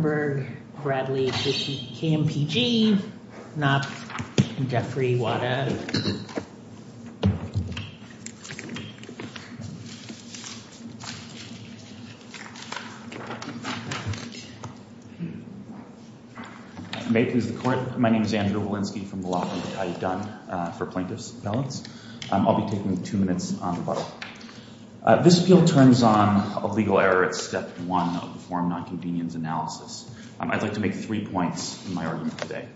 v. Bradley, KMPG, Knopf v. Jeffery, Waddev. May it please the Court, my name is Andrew Walensky from the Law Department. I've done for plaintiff's appellants. I'll be taking two minutes on the bottle. This appeal turns on a legal error at step one of the form non-convenience analysis. I'd like to make three points in my argument today.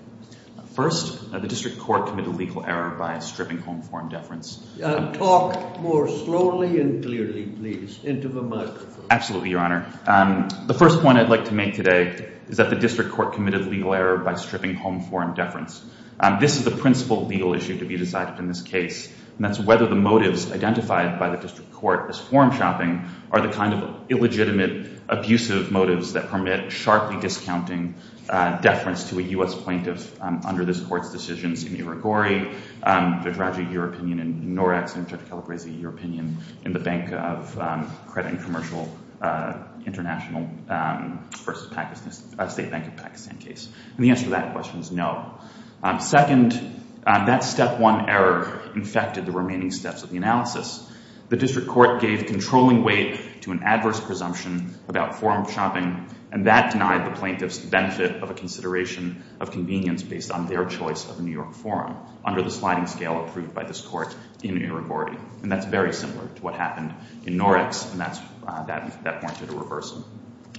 First, the district court committed a legal error by stripping home form deference. Talk more slowly and clearly, please, into the microphone. Absolutely, Your Honor. The first point I'd like to make today is that the district court committed a legal error by stripping home form deference. This is the principal legal issue to be decided in this case, and that's whether the motives identified by the district court as form shopping are the kind of illegitimate, abusive motives that permit sharply discounting deference to a U.S. plaintiff under this court's decisions in Irigori, Jodragi, your opinion in Norax, and Jodragi-Calabresi, your opinion in the Bank of Credit and Commercial International v. State Bank of Pakistan case. And the answer to that question is no. Second, that step one error infected the remaining steps of the analysis. The district court gave controlling weight to an adverse presumption about form shopping, and that denied the plaintiffs the benefit of a consideration of convenience based on their choice of New York form under the sliding scale approved by this court in Irigori. And that's very similar to what happened in Norax, and that's that point to the reversal.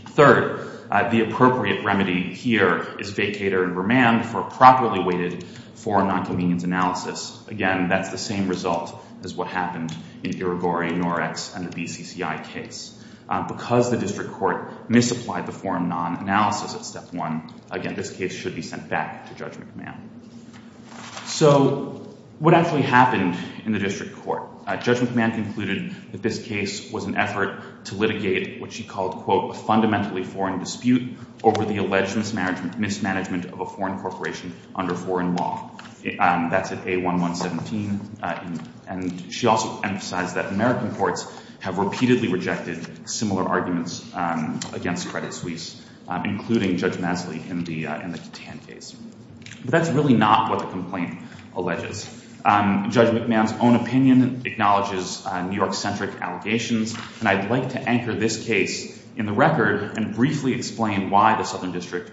Third, the appropriate remedy here is vacator and remand for properly weighted form nonconvenience analysis. Again, that's the same result as what happened in Irigori, Norax, and the BCCI case. Because the district court misapplied the form nonanalysis at step one, again, this case should be sent back to Judge McMahon. So what actually happened in the district court? Judge McMahon concluded that this case was an effort to litigate what she called, quote, a fundamentally foreign dispute over the alleged mismanagement of a foreign corporation under foreign law. That's at A1117. And she also emphasized that American courts have repeatedly rejected similar arguments against Credit Suisse, including Judge Masley in the Katan case. But that's really not what the complaint alleges. Judge McMahon's own opinion acknowledges New York-centric allegations, and I'd like to anchor this case in the record and briefly explain why the Southern District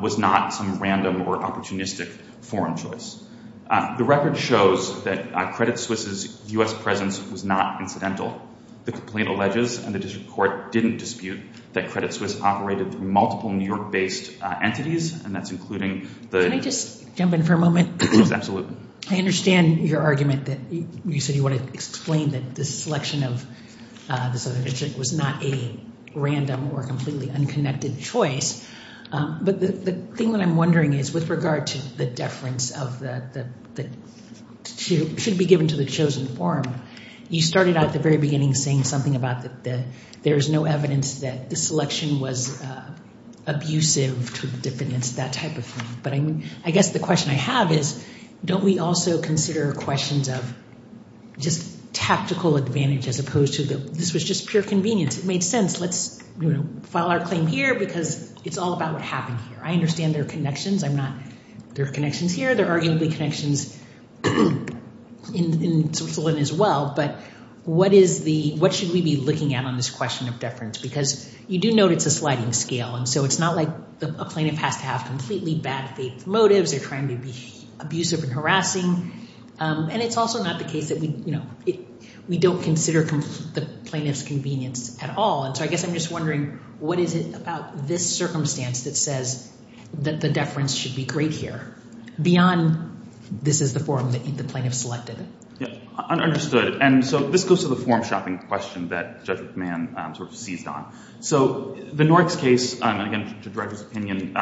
was not some random or opportunistic foreign choice. The record shows that Credit Suisse's U.S. presence was not incidental. The complaint alleges, and the district court didn't dispute, that Credit Suisse operated through multiple New York-based entities, and that's including the- Can I just jump in for a moment? Yes, absolutely. I understand your argument that you said you wanted to explain that the selection of the Southern District was not a random or completely unconnected choice. But the thing that I'm wondering is, with regard to the deference of the- that should be given to the chosen form, you started out at the very beginning saying something about that there is no evidence that the selection was abusive to defendants, that type of thing. But I guess the question I have is, don't we also consider questions of just tactical advantage as opposed to this was just pure convenience? It made sense. Let's file our claim here because it's all about what happened here. I understand there are connections. I'm not- there are connections here. There are arguably connections in Switzerland as well. But what is the- what should we be looking at on this question of deference? Because you do note it's a sliding scale, and so it's not like a plaintiff has to have completely bad faith motives or trying to be abusive and harassing. And it's also not the case that we don't consider the plaintiff's convenience at all. And so I guess I'm just wondering, what is it about this circumstance that says that the deference should be great here beyond this is the form that the plaintiff selected? Yeah, understood. And so this goes to the form shopping question that Judge McMahon sort of seized on. So the Norks case, again, to Judge's opinion,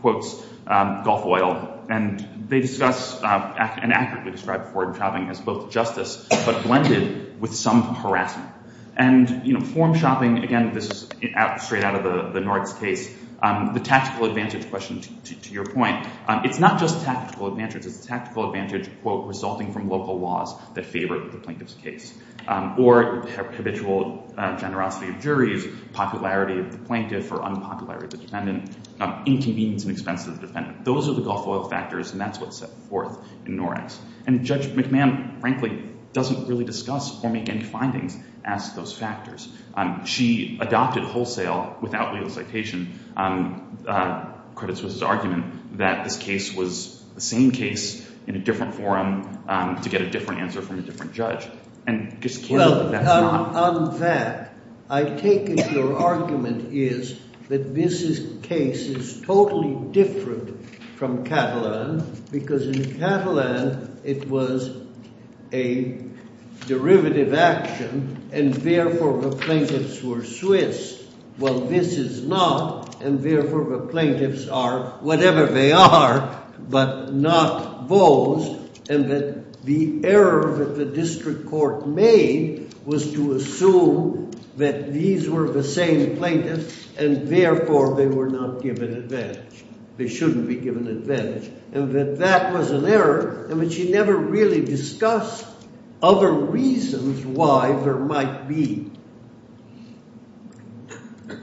quotes Gulf Oil, and they discuss and accurately describe form shopping as both justice but blended with some harassment. And, you know, form shopping, again, this is straight out of the Norks case. The tactical advantage question, to your point, it's not just tactical advantage. It's a tactical advantage, quote, resulting from local laws that favor the plaintiff's case. Or habitual generosity of juries, popularity of the plaintiff or unpopularity of the defendant, inconvenience and expense of the defendant. Those are the Gulf Oil factors, and that's what's set forth in Norks. And Judge McMahon, frankly, doesn't really discuss or make any findings as to those factors. She adopted wholesale, without legal citation, Credit Suisse's argument that this case was the same case in a different forum to get a different answer from a different judge. Well, on that, I take it your argument is that this case is totally different from Catalan because in Catalan it was a derivative action, and therefore the plaintiffs were Swiss. Well, this is not, and therefore the plaintiffs are whatever they are, but not those. And that the error that the district court made was to assume that these were the same plaintiffs, and therefore they were not given advantage. They shouldn't be given advantage. And that that was an error, and she never really discussed other reasons why there might be.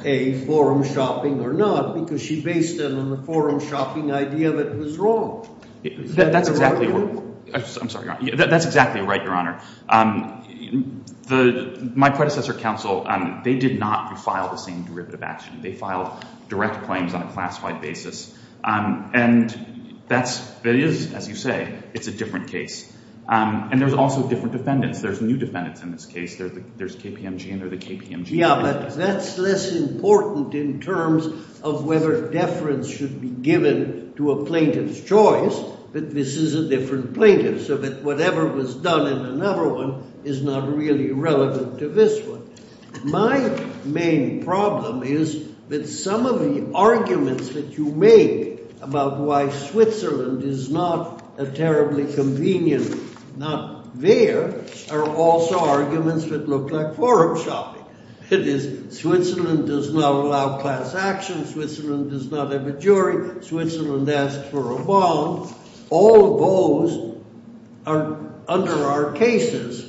A, forum shopping or not, because she based it on the forum shopping idea that it was wrong. That's exactly right. I'm sorry, Your Honor. That's exactly right, Your Honor. My predecessor counsel, they did not file the same derivative action. They filed direct claims on a classified basis. And that is, as you say, it's a different case. And there's also different defendants. There's new defendants in this case. There's KPMG and there's the KPMG plaintiffs. Yeah, but that's less important in terms of whether deference should be given to a plaintiff's choice. But this is a different plaintiff, so that whatever was done in another one is not really relevant to this one. My main problem is that some of the arguments that you make about why Switzerland is not a terribly convenient, not there, are also arguments that look like forum shopping. It is Switzerland does not allow class action. Switzerland does not have a jury. Switzerland asks for a bond. All those are under our cases,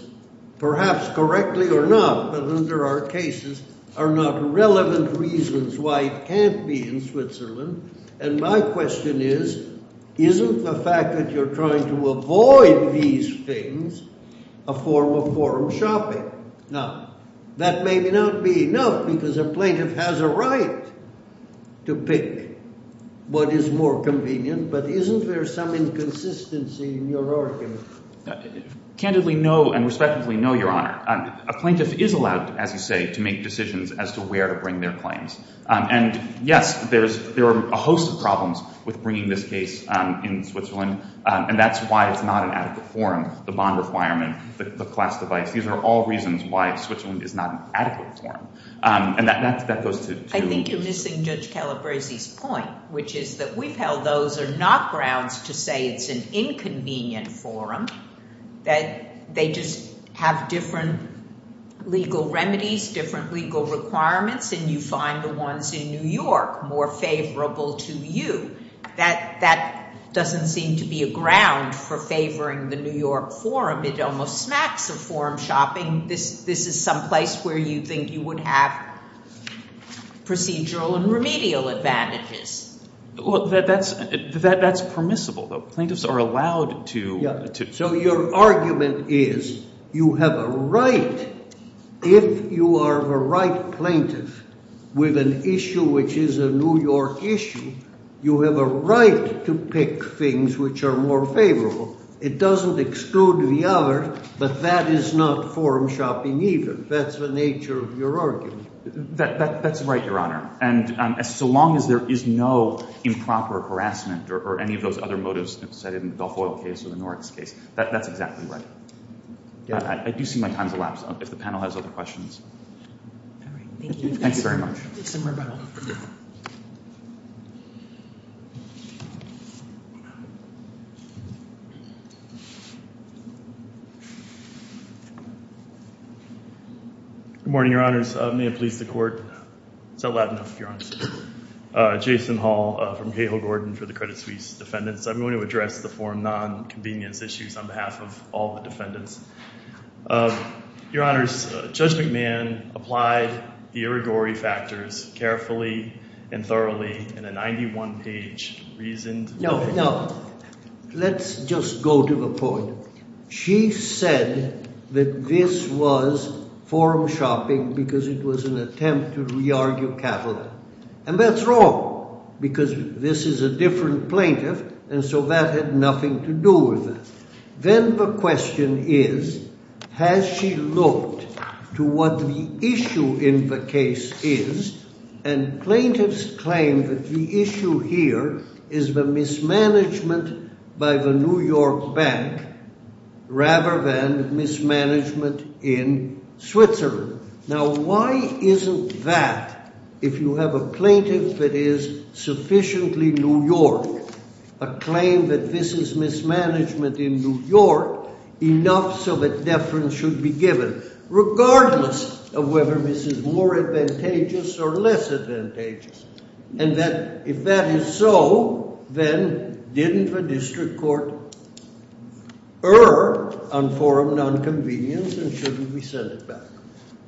perhaps correctly or not, but under our cases are not relevant reasons why it can't be in Switzerland. And my question is, isn't the fact that you're trying to avoid these things a form of forum shopping? Now, that may not be enough because a plaintiff has a right to pick what is more convenient. But isn't there some inconsistency in your argument? Candidly, no, and respectfully, no, Your Honor. A plaintiff is allowed, as you say, to make decisions as to where to bring their claims. And, yes, there are a host of problems with bringing this case in Switzerland, and that's why it's not an adequate forum, the bond requirement, the class device. These are all reasons why Switzerland is not an adequate forum. I think you're missing Judge Calabresi's point, which is that we've held those are not grounds to say it's an inconvenient forum. They just have different legal remedies, different legal requirements, and you find the ones in New York more favorable to you. That doesn't seem to be a ground for favoring the New York forum. It almost smacks of forum shopping. This is some place where you think you would have procedural and remedial advantages. Well, that's permissible, though. Plaintiffs are allowed to. So your argument is you have a right, if you are the right plaintiff with an issue which is a New York issue, you have a right to pick things which are more favorable. It doesn't exclude the other, but that is not forum shopping either. That's the nature of your argument. That's right, Your Honor. And so long as there is no improper harassment or any of those other motives cited in the Balfoyle case or the Norris case, that's exactly right. I do see my time's elapsed. If the panel has other questions. All right. Thank you. Thanks very much. Good morning, Your Honors. May it please the Court. Is that loud enough, Your Honors? Jason Hall from Cahill Gordon for the Credit Suisse Defendants. I'm going to address the forum nonconvenience issues on behalf of all the defendants. Your Honors, Judge McMahon applied the irrigory factors carefully and thoroughly in a 91-page reasoned way. No, no. Let's just go to the point. She said that this was forum shopping because it was an attempt to re-argue capital, and that's wrong because this is a different plaintiff, and so that had nothing to do with it. Then the question is, has she looked to what the issue in the case is, and plaintiffs claim that the issue here is the mismanagement by the New York Bank rather than mismanagement in Switzerland. Now, why isn't that, if you have a plaintiff that is sufficiently New York, a claim that this is mismanagement in New York, enough so that deference should be given, regardless of whether this is more advantageous or less advantageous. And that, if that is so, then didn't the district court err on forum nonconvenience and shouldn't we send it back?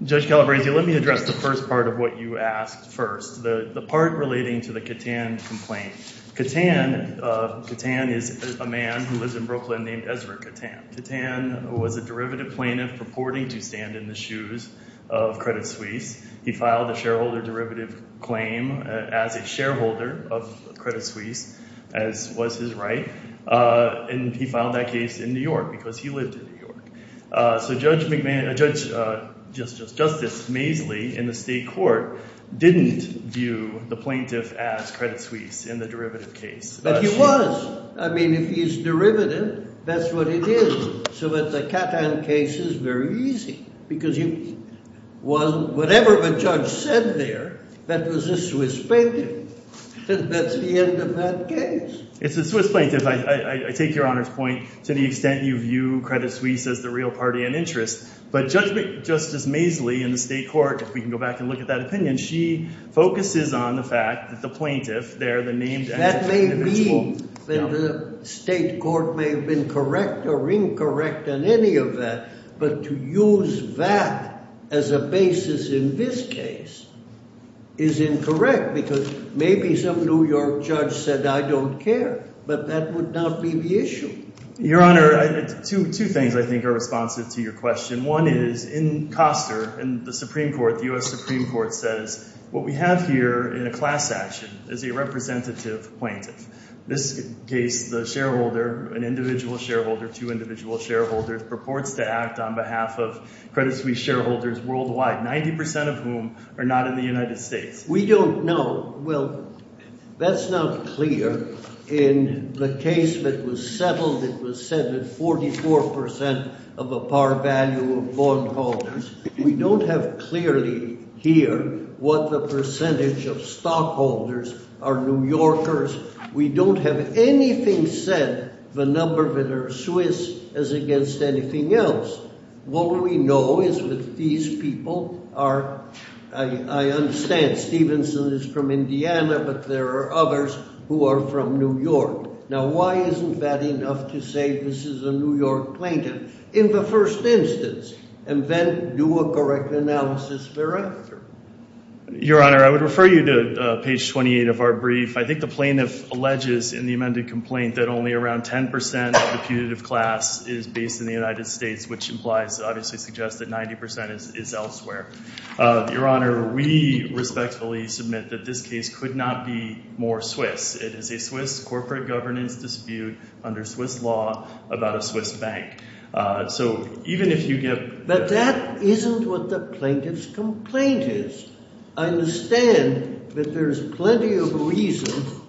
Judge Calabresi, let me address the first part of what you asked first, the part relating to the Catan complaint. Catan is a man who lives in Brooklyn named Ezra Catan. Catan was a derivative plaintiff purporting to stand in the shoes of Credit Suisse. He filed a shareholder derivative claim as a shareholder of Credit Suisse, as was his right, and he filed that case in New York because he lived in New York. So Judge Justice Maisley in the state court didn't view the plaintiff as Credit Suisse in the derivative case. But he was. I mean, if he's derivative, that's what it is. So that the Catan case is very easy because whatever the judge said there, that was a Swiss plaintiff. That's the end of that case. It's a Swiss plaintiff. I take Your Honor's point to the extent you view Credit Suisse as the real party and interest. But Judge Justice Maisley in the state court, if we can go back and look at that opinion, she focuses on the fact that the plaintiff there, the named… That may be that the state court may have been correct or incorrect in any of that. But to use that as a basis in this case is incorrect because maybe some New York judge said, I don't care. But that would not be the issue. Your Honor, two things I think are responsive to your question. One is in Coster, in the Supreme Court, the U.S. Supreme Court says what we have here in a class action is a representative plaintiff. This case, the shareholder, an individual shareholder, two individual shareholders, purports to act on behalf of Credit Suisse shareholders worldwide, 90% of whom are not in the United States. We don't know. Well, that's not clear. In the case that was settled, it was said that 44% of a par value of bondholders. We don't have clearly here what the percentage of stockholders are New Yorkers. We don't have anything said, the number that are Swiss, as against anything else. What we know is that these people are, I understand Stevenson is from Indiana, but there are others who are from New York. Now why isn't that enough to say this is a New York plaintiff? In the first instance, and then do a correct analysis thereafter. Your Honor, I would refer you to page 28 of our brief. I think the plaintiff alleges in the amended complaint that only around 10% of the putative class is based in the United States, which implies, obviously suggests that 90% is elsewhere. Your Honor, we respectfully submit that this case could not be more Swiss. It is a Swiss corporate governance dispute under Swiss law about a Swiss bank. But that isn't what the plaintiff's complaint is. I understand that there's plenty of reason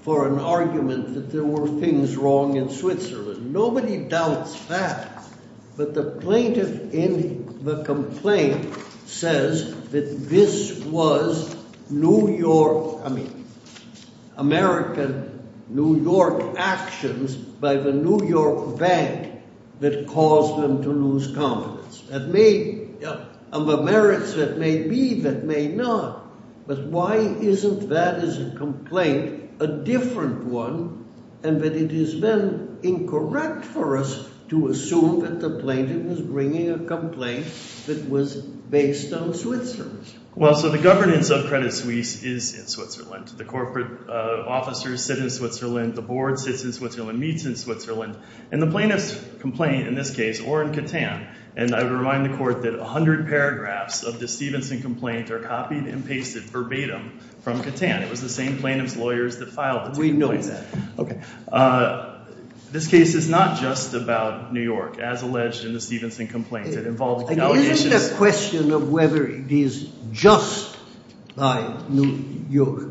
for an argument that there were things wrong in Switzerland. That caused them to lose confidence. And the merits that may be, that may not. But why isn't that as a complaint a different one? And that it has been incorrect for us to assume that the plaintiff is bringing a complaint that was based on Switzerland. Well, so the governance of Credit Suisse is in Switzerland. The corporate officers sit in Switzerland. The board sits in Switzerland, meets in Switzerland. And the plaintiff's complaint in this case, or in Catan, and I would remind the court that 100 paragraphs of the Stevenson complaint are copied and pasted verbatim from Catan. It was the same plaintiff's lawyers that filed it. We know that. Okay. This case is not just about New York, as alleged in the Stevenson complaint. It involves allegations. It isn't a question of whether it is just by New York.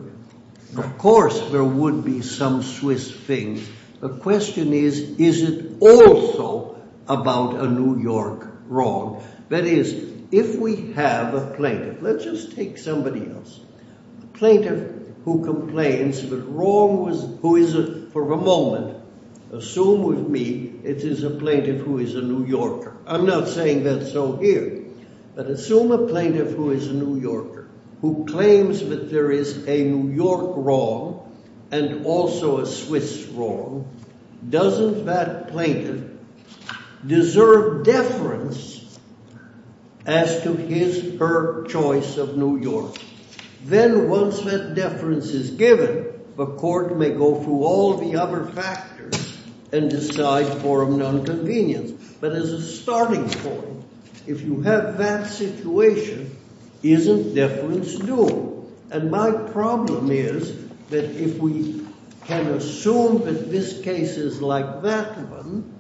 Of course there would be some Swiss things. The question is, is it also about a New York wrong? That is, if we have a plaintiff. Let's just take somebody else. A plaintiff who complains that wrong was – who is, for a moment, assume with me, it is a plaintiff who is a New Yorker. I'm not saying that's so here. But assume a plaintiff who is a New Yorker who claims that there is a New York wrong and also a Swiss wrong. Doesn't that plaintiff deserve deference as to his or her choice of New York? Then once that deference is given, the court may go through all the other factors and decide for an inconvenience. But as a starting point, if you have that situation, isn't deference due? And my problem is that if we can assume that this case is like that one,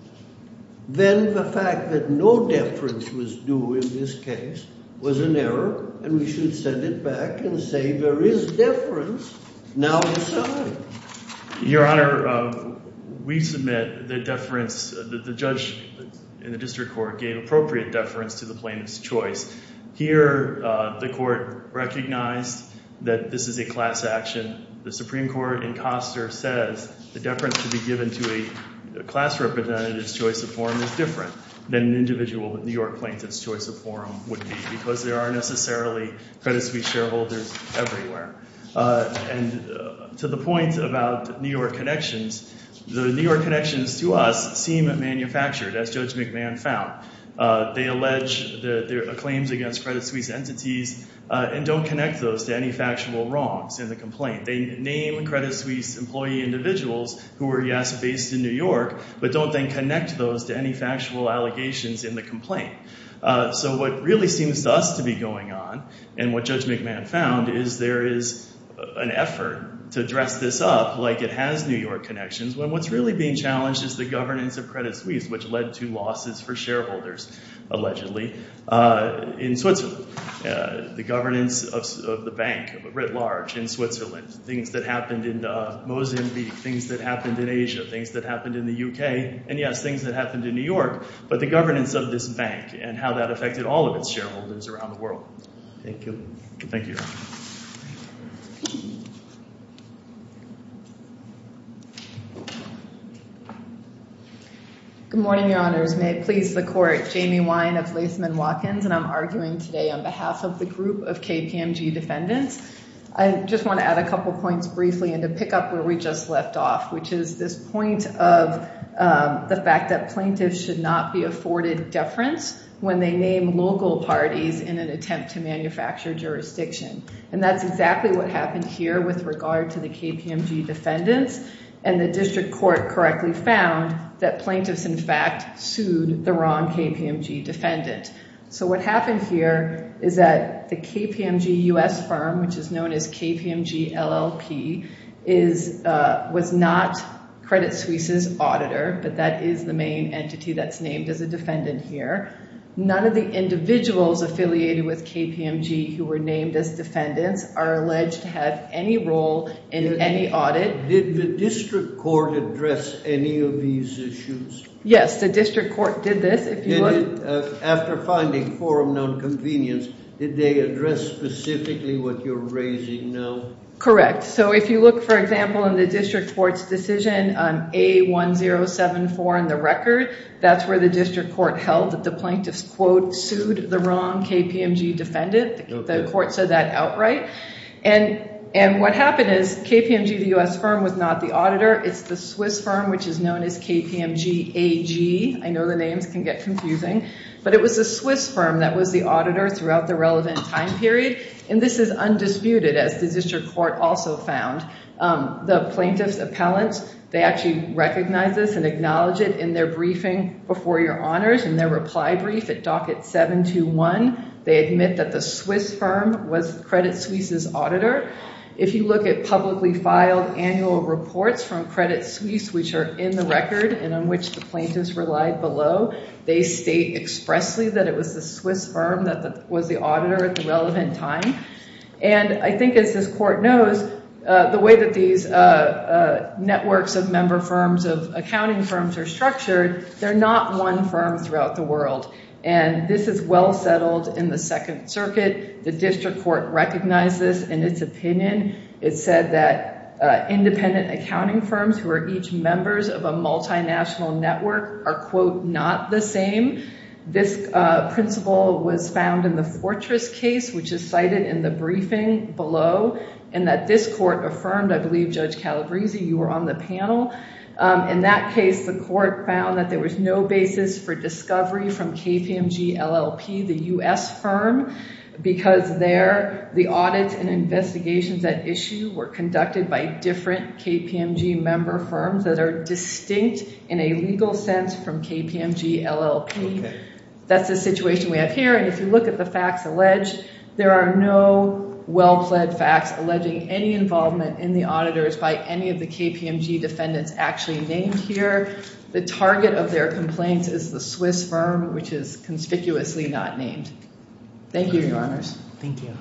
then the fact that no deference was due in this case was an error, and we should send it back and say there is deference. Now decide. Your Honor, we submit that deference – that the judge in the district court gave appropriate deference to the plaintiff's choice. Here the court recognized that this is a class action. The Supreme Court in Coster says the deference to be given to a class representative's choice of forum is different than an individual New York plaintiff's choice of forum would be because there are necessarily credit suite shareholders everywhere. And to the point about New York connections, the New York connections to us seem manufactured, as Judge McMahon found. They allege their claims against credit suite entities and don't connect those to any factual wrongs in the complaint. They name credit suite employee individuals who are, yes, based in New York, but don't then connect those to any factual allegations in the complaint. So what really seems to us to be going on and what Judge McMahon found is there is an effort to dress this up like it has New York connections when what's really being challenged is the governance of credit suites, which led to losses for shareholders, allegedly, in Switzerland. Things that happened in Mozambique, things that happened in Asia, things that happened in the U.K., and, yes, things that happened in New York, but the governance of this bank and how that affected all of its shareholders around the world. Thank you. Thank you, Your Honor. Good morning, Your Honors. May it please the Court. Jamie Wine of Latham & Watkins, and I'm arguing today on behalf of the group of KPMG defendants. I just want to add a couple points briefly and to pick up where we just left off, which is this point of the fact that plaintiffs should not be afforded deference when they name local parties in an attempt to manufacture jurisdiction. And that's exactly what happened here with regard to the KPMG defendants, and the district court correctly found that plaintiffs, in fact, sued the wrong KPMG defendant. So what happened here is that the KPMG U.S. firm, which is known as KPMG LLP, was not Credit Suisse's auditor, but that is the main entity that's named as a defendant here. None of the individuals affiliated with KPMG who were named as defendants are alleged to have any role in any audit. Did the district court address any of these issues? Yes, the district court did this. After finding forum nonconvenience, did they address specifically what you're raising now? Correct. So if you look, for example, in the district court's decision on A1074 in the record, that's where the district court held that the plaintiffs, quote, sued the wrong KPMG defendant. The court said that outright. And what happened is KPMG, the U.S. firm, was not the auditor. It's the Swiss firm, which is known as KPMG AG. I know the names can get confusing. But it was the Swiss firm that was the auditor throughout the relevant time period. And this is undisputed, as the district court also found. The plaintiffs' appellants, they actually recognize this and acknowledge it in their briefing before your honors, in their reply brief at docket 721. They admit that the Swiss firm was Credit Suisse's auditor. If you look at publicly filed annual reports from Credit Suisse, which are in the record and on which the plaintiffs relied below, they state expressly that it was the Swiss firm that was the auditor at the relevant time. And I think, as this court knows, the way that these networks of member firms, of accounting firms, are structured, they're not one firm throughout the world. And this is well settled in the Second Circuit. The district court recognized this in its opinion. It said that independent accounting firms who are each members of a multinational network are, quote, not the same. This principle was found in the Fortress case, which is cited in the briefing below, and that this court affirmed. I believe, Judge Calabrese, you were on the panel. In that case, the court found that there was no basis for discovery from KPMG LLP, the U.S. firm, because there, the audits and investigations at issue were conducted by different KPMG member firms that are distinct in a legal sense from KPMG LLP. That's the situation we have here. And if you look at the facts alleged, there are no well-pled facts alleging any involvement in the auditors by any of the KPMG defendants actually named here. The target of their complaints is the Swiss firm, which is conspicuously not named. Thank you, Your Honors. Thank you.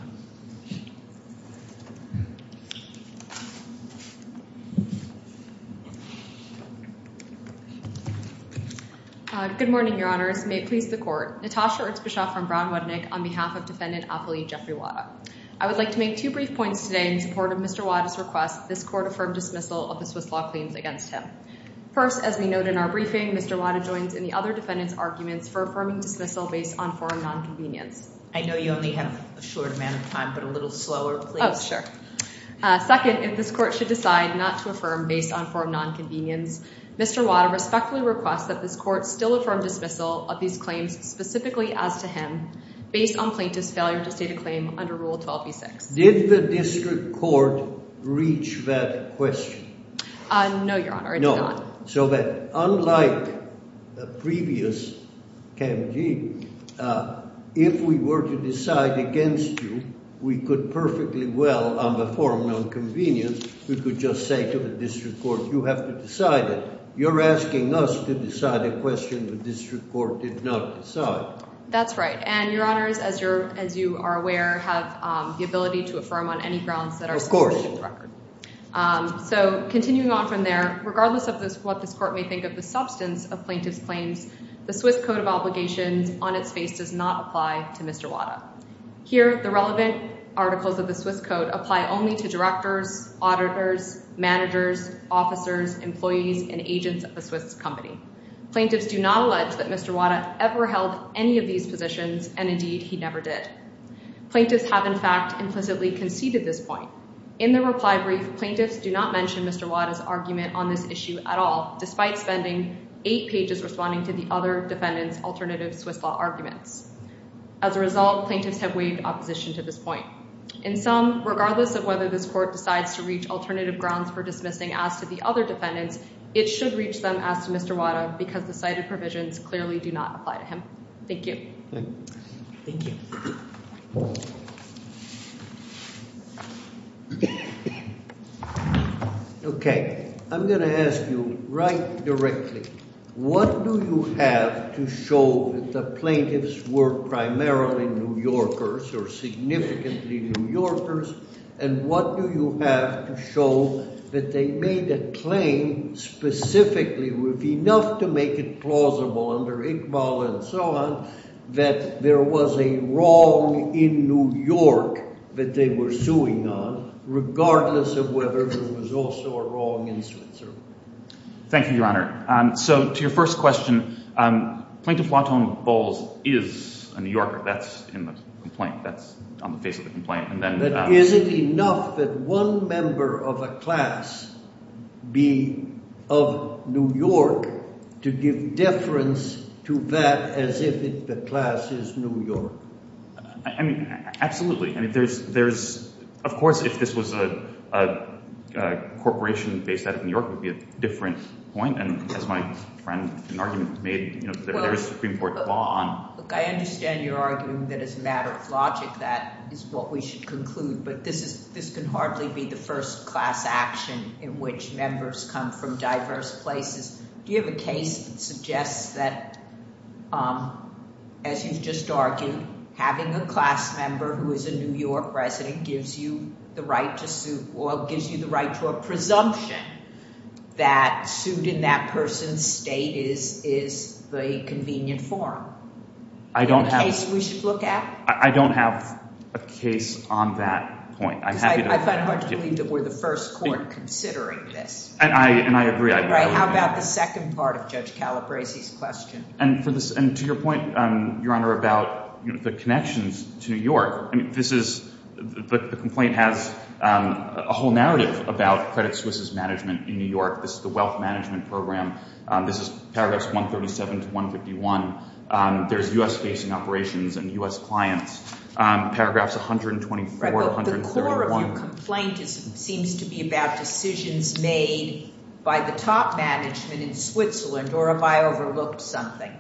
Good morning, Your Honors. May it please the court. Natasha Erzbischoff from Brown Wetnick on behalf of defendant appellee Jeffrey Wada. I would like to make two brief points today in support of Mr. Wada's request. This court affirmed dismissal of the Swiss law claims against him. First, as we note in our briefing, Mr. Wada joins in the other defendants' arguments for affirming dismissal based on foreign nonconvenience. I know you only have a short amount of time, but a little slower, please. Oh, sure. Second, if this court should decide not to affirm based on foreign nonconvenience, Mr. Wada respectfully requests that this court still affirm dismissal of these claims specifically as to him based on plaintiff's failure to state a claim under Rule 12b6. Did the district court reach that question? No, Your Honor. No. So that unlike the previous KMG, if we were to decide against you, we could perfectly well, on the foreign nonconvenience, we could just say to the district court, you have to decide it. You're asking us to decide a question the district court did not decide. That's right. And, Your Honors, as you are aware, have the ability to affirm on any grounds that are supported in the record. So continuing on from there, regardless of what this court may think of the substance of plaintiff's claims, the Swiss Code of Obligations on its face does not apply to Mr. Wada. Here, the relevant articles of the Swiss Code apply only to directors, auditors, managers, officers, employees, and agents of a Swiss company. Plaintiffs do not allege that Mr. Wada ever held any of these positions, and indeed, he never did. Plaintiffs have, in fact, implicitly conceded this point. In the reply brief, plaintiffs do not mention Mr. Wada's argument on this issue at all, despite spending eight pages responding to the other defendants' alternative Swiss law arguments. As a result, plaintiffs have waived opposition to this point. In sum, regardless of whether this court decides to reach alternative grounds for dismissing as to the other defendants, it should reach them as to Mr. Wada because the cited provisions clearly do not apply to him. Thank you. Thank you. Okay. I'm going to ask you right directly. What do you have to show that the plaintiffs were primarily New Yorkers or significantly New Yorkers, and what do you have to show that they made a claim specifically with enough to make it plausible under Iqbal and so on that there was a wrong in New York that they were suing on, regardless of whether there was also a wrong in Switzerland? Thank you, Your Honor. So to your first question, Plaintiff Watone Bowles is a New Yorker. That's in the complaint. That's on the face of the complaint. But is it enough that one member of a class be of New York to give deference to that as if the class is New York? I mean, absolutely. I mean, there's – of course, if this was a corporation based out of New York, it would be a different point. And as my friend in argument made, there is Supreme Court law on – Look, I understand you're arguing that as a matter of logic that is what we should conclude, but this can hardly be the first class action in which members come from diverse places. Do you have a case that suggests that, as you've just argued, having a class member who is a New York resident gives you the right to sue or gives you the right to a presumption that sued in that person's state is a convenient forum? I don't have – Is that a case we should look at? I don't have a case on that point. I'm happy to – Because I find it hard to believe that we're the first court considering this. And I agree. How about the second part of Judge Calabresi's question? And to your point, Your Honor, about the connections to New York, I mean, this is – the complaint has a whole narrative about Credit Suisse's management in New York. This is the wealth management program. This is paragraphs 137 to 151. There's U.S.-facing operations and U.S. clients. Paragraphs 124 to 131. Your complaint seems to be about decisions made by the top management in Switzerland, or have I overlooked something?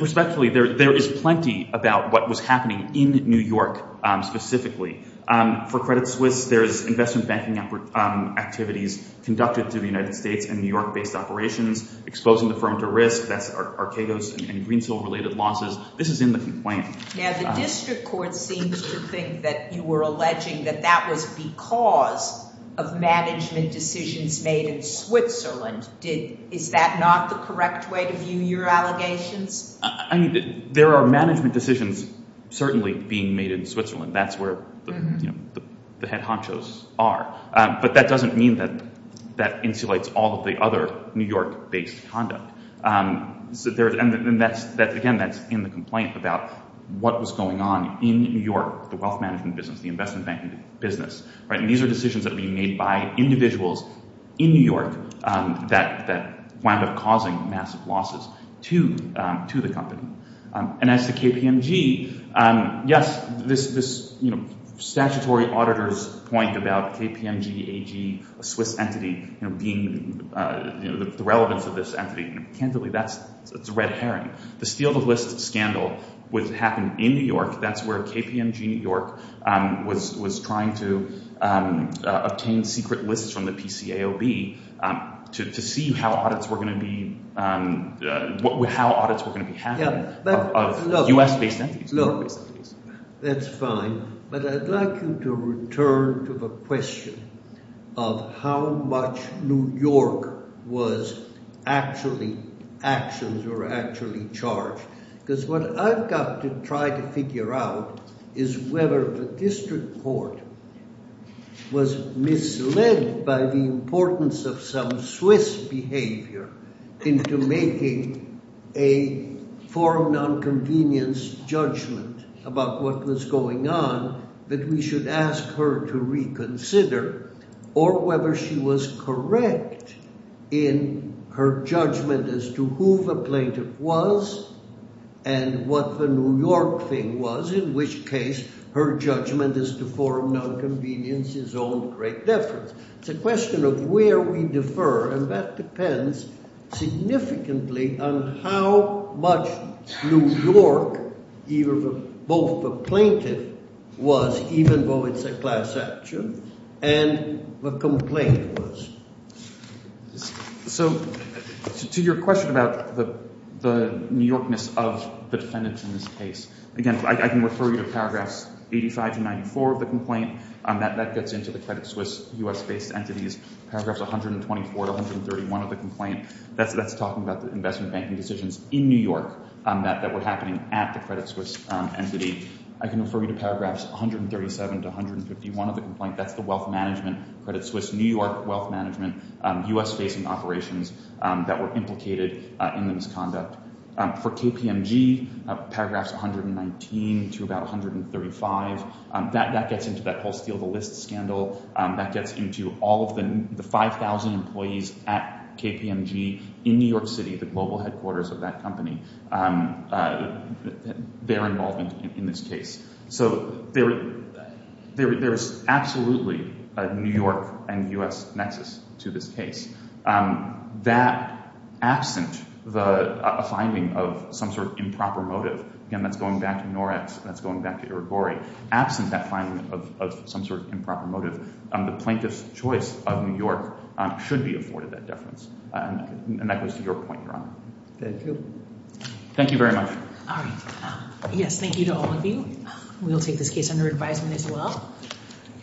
Respectfully, there is plenty about what was happening in New York specifically. For Credit Suisse, there is investment banking activities conducted through the United States and New York-based operations, exposing the firm to risk. That's Archegos and Greensill-related losses. This is in the complaint. Now, the district court seems to think that you were alleging that that was because of management decisions made in Switzerland. Is that not the correct way to view your allegations? I mean, there are management decisions certainly being made in Switzerland. That's where the head honchos are. But that doesn't mean that that insulates all of the other New York-based conduct. Again, that's in the complaint about what was going on in New York, the wealth management business, the investment banking business. These are decisions that are being made by individuals in New York that wound up causing massive losses to the company. And as to KPMG, yes, this statutory auditor's point about KPMG AG, a Swiss entity, being the relevance of this entity, candidly, that's a red herring. The steal-the-list scandal happened in New York. That's where KPMG New York was trying to obtain secret lists from the PCAOB to see how audits were going to be happening of U.S.-based entities. Look, that's fine, but I'd like you to return to the question of how much New York was actually – actions were actually charged. Because what I've got to try to figure out is whether the district court was misled by the importance of some Swiss behavior into making a foreign nonconvenience judgment about what was going on, that we should ask her to reconsider, or whether she was correct in her judgment as to who the plaintiff was and what the New York thing was, in which case her judgment as to foreign nonconvenience is of great difference. It's a question of where we differ, and that depends significantly on how much New York both the plaintiff was, even though it's a class action, and the complaint was. So to your question about the New Yorkness of the defendants in this case, again, I can refer you to paragraphs 85 to 94 of the complaint. That gets into the Credit Suisse U.S.-based entities. Paragraphs 124 to 131 of the complaint, that's talking about the investment banking decisions in New York that were happening at the Credit Suisse entity. I can refer you to paragraphs 137 to 151 of the complaint. That's the wealth management, Credit Suisse New York wealth management, U.S.-facing operations that were implicated in the misconduct. For KPMG, paragraphs 119 to about 135, that gets into that whole steal-the-list scandal. That gets into all of the 5,000 employees at KPMG in New York City, the global headquarters of that company, their involvement in this case. So there is absolutely a New York and U.S. nexus to this case. That, absent the finding of some sort of improper motive, again, that's going back to Norex, that's going back to Irigori. Absent that finding of some sort of improper motive, the plaintiff's choice of New York should be afforded that deference. And that goes to your point, Your Honor. Thank you. Thank you very much. All right. Yes, thank you to all of you. We will take this case under advisement as well.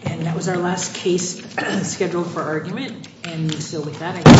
And that was our last case scheduled for argument. And so with that, I guess we are adjourned.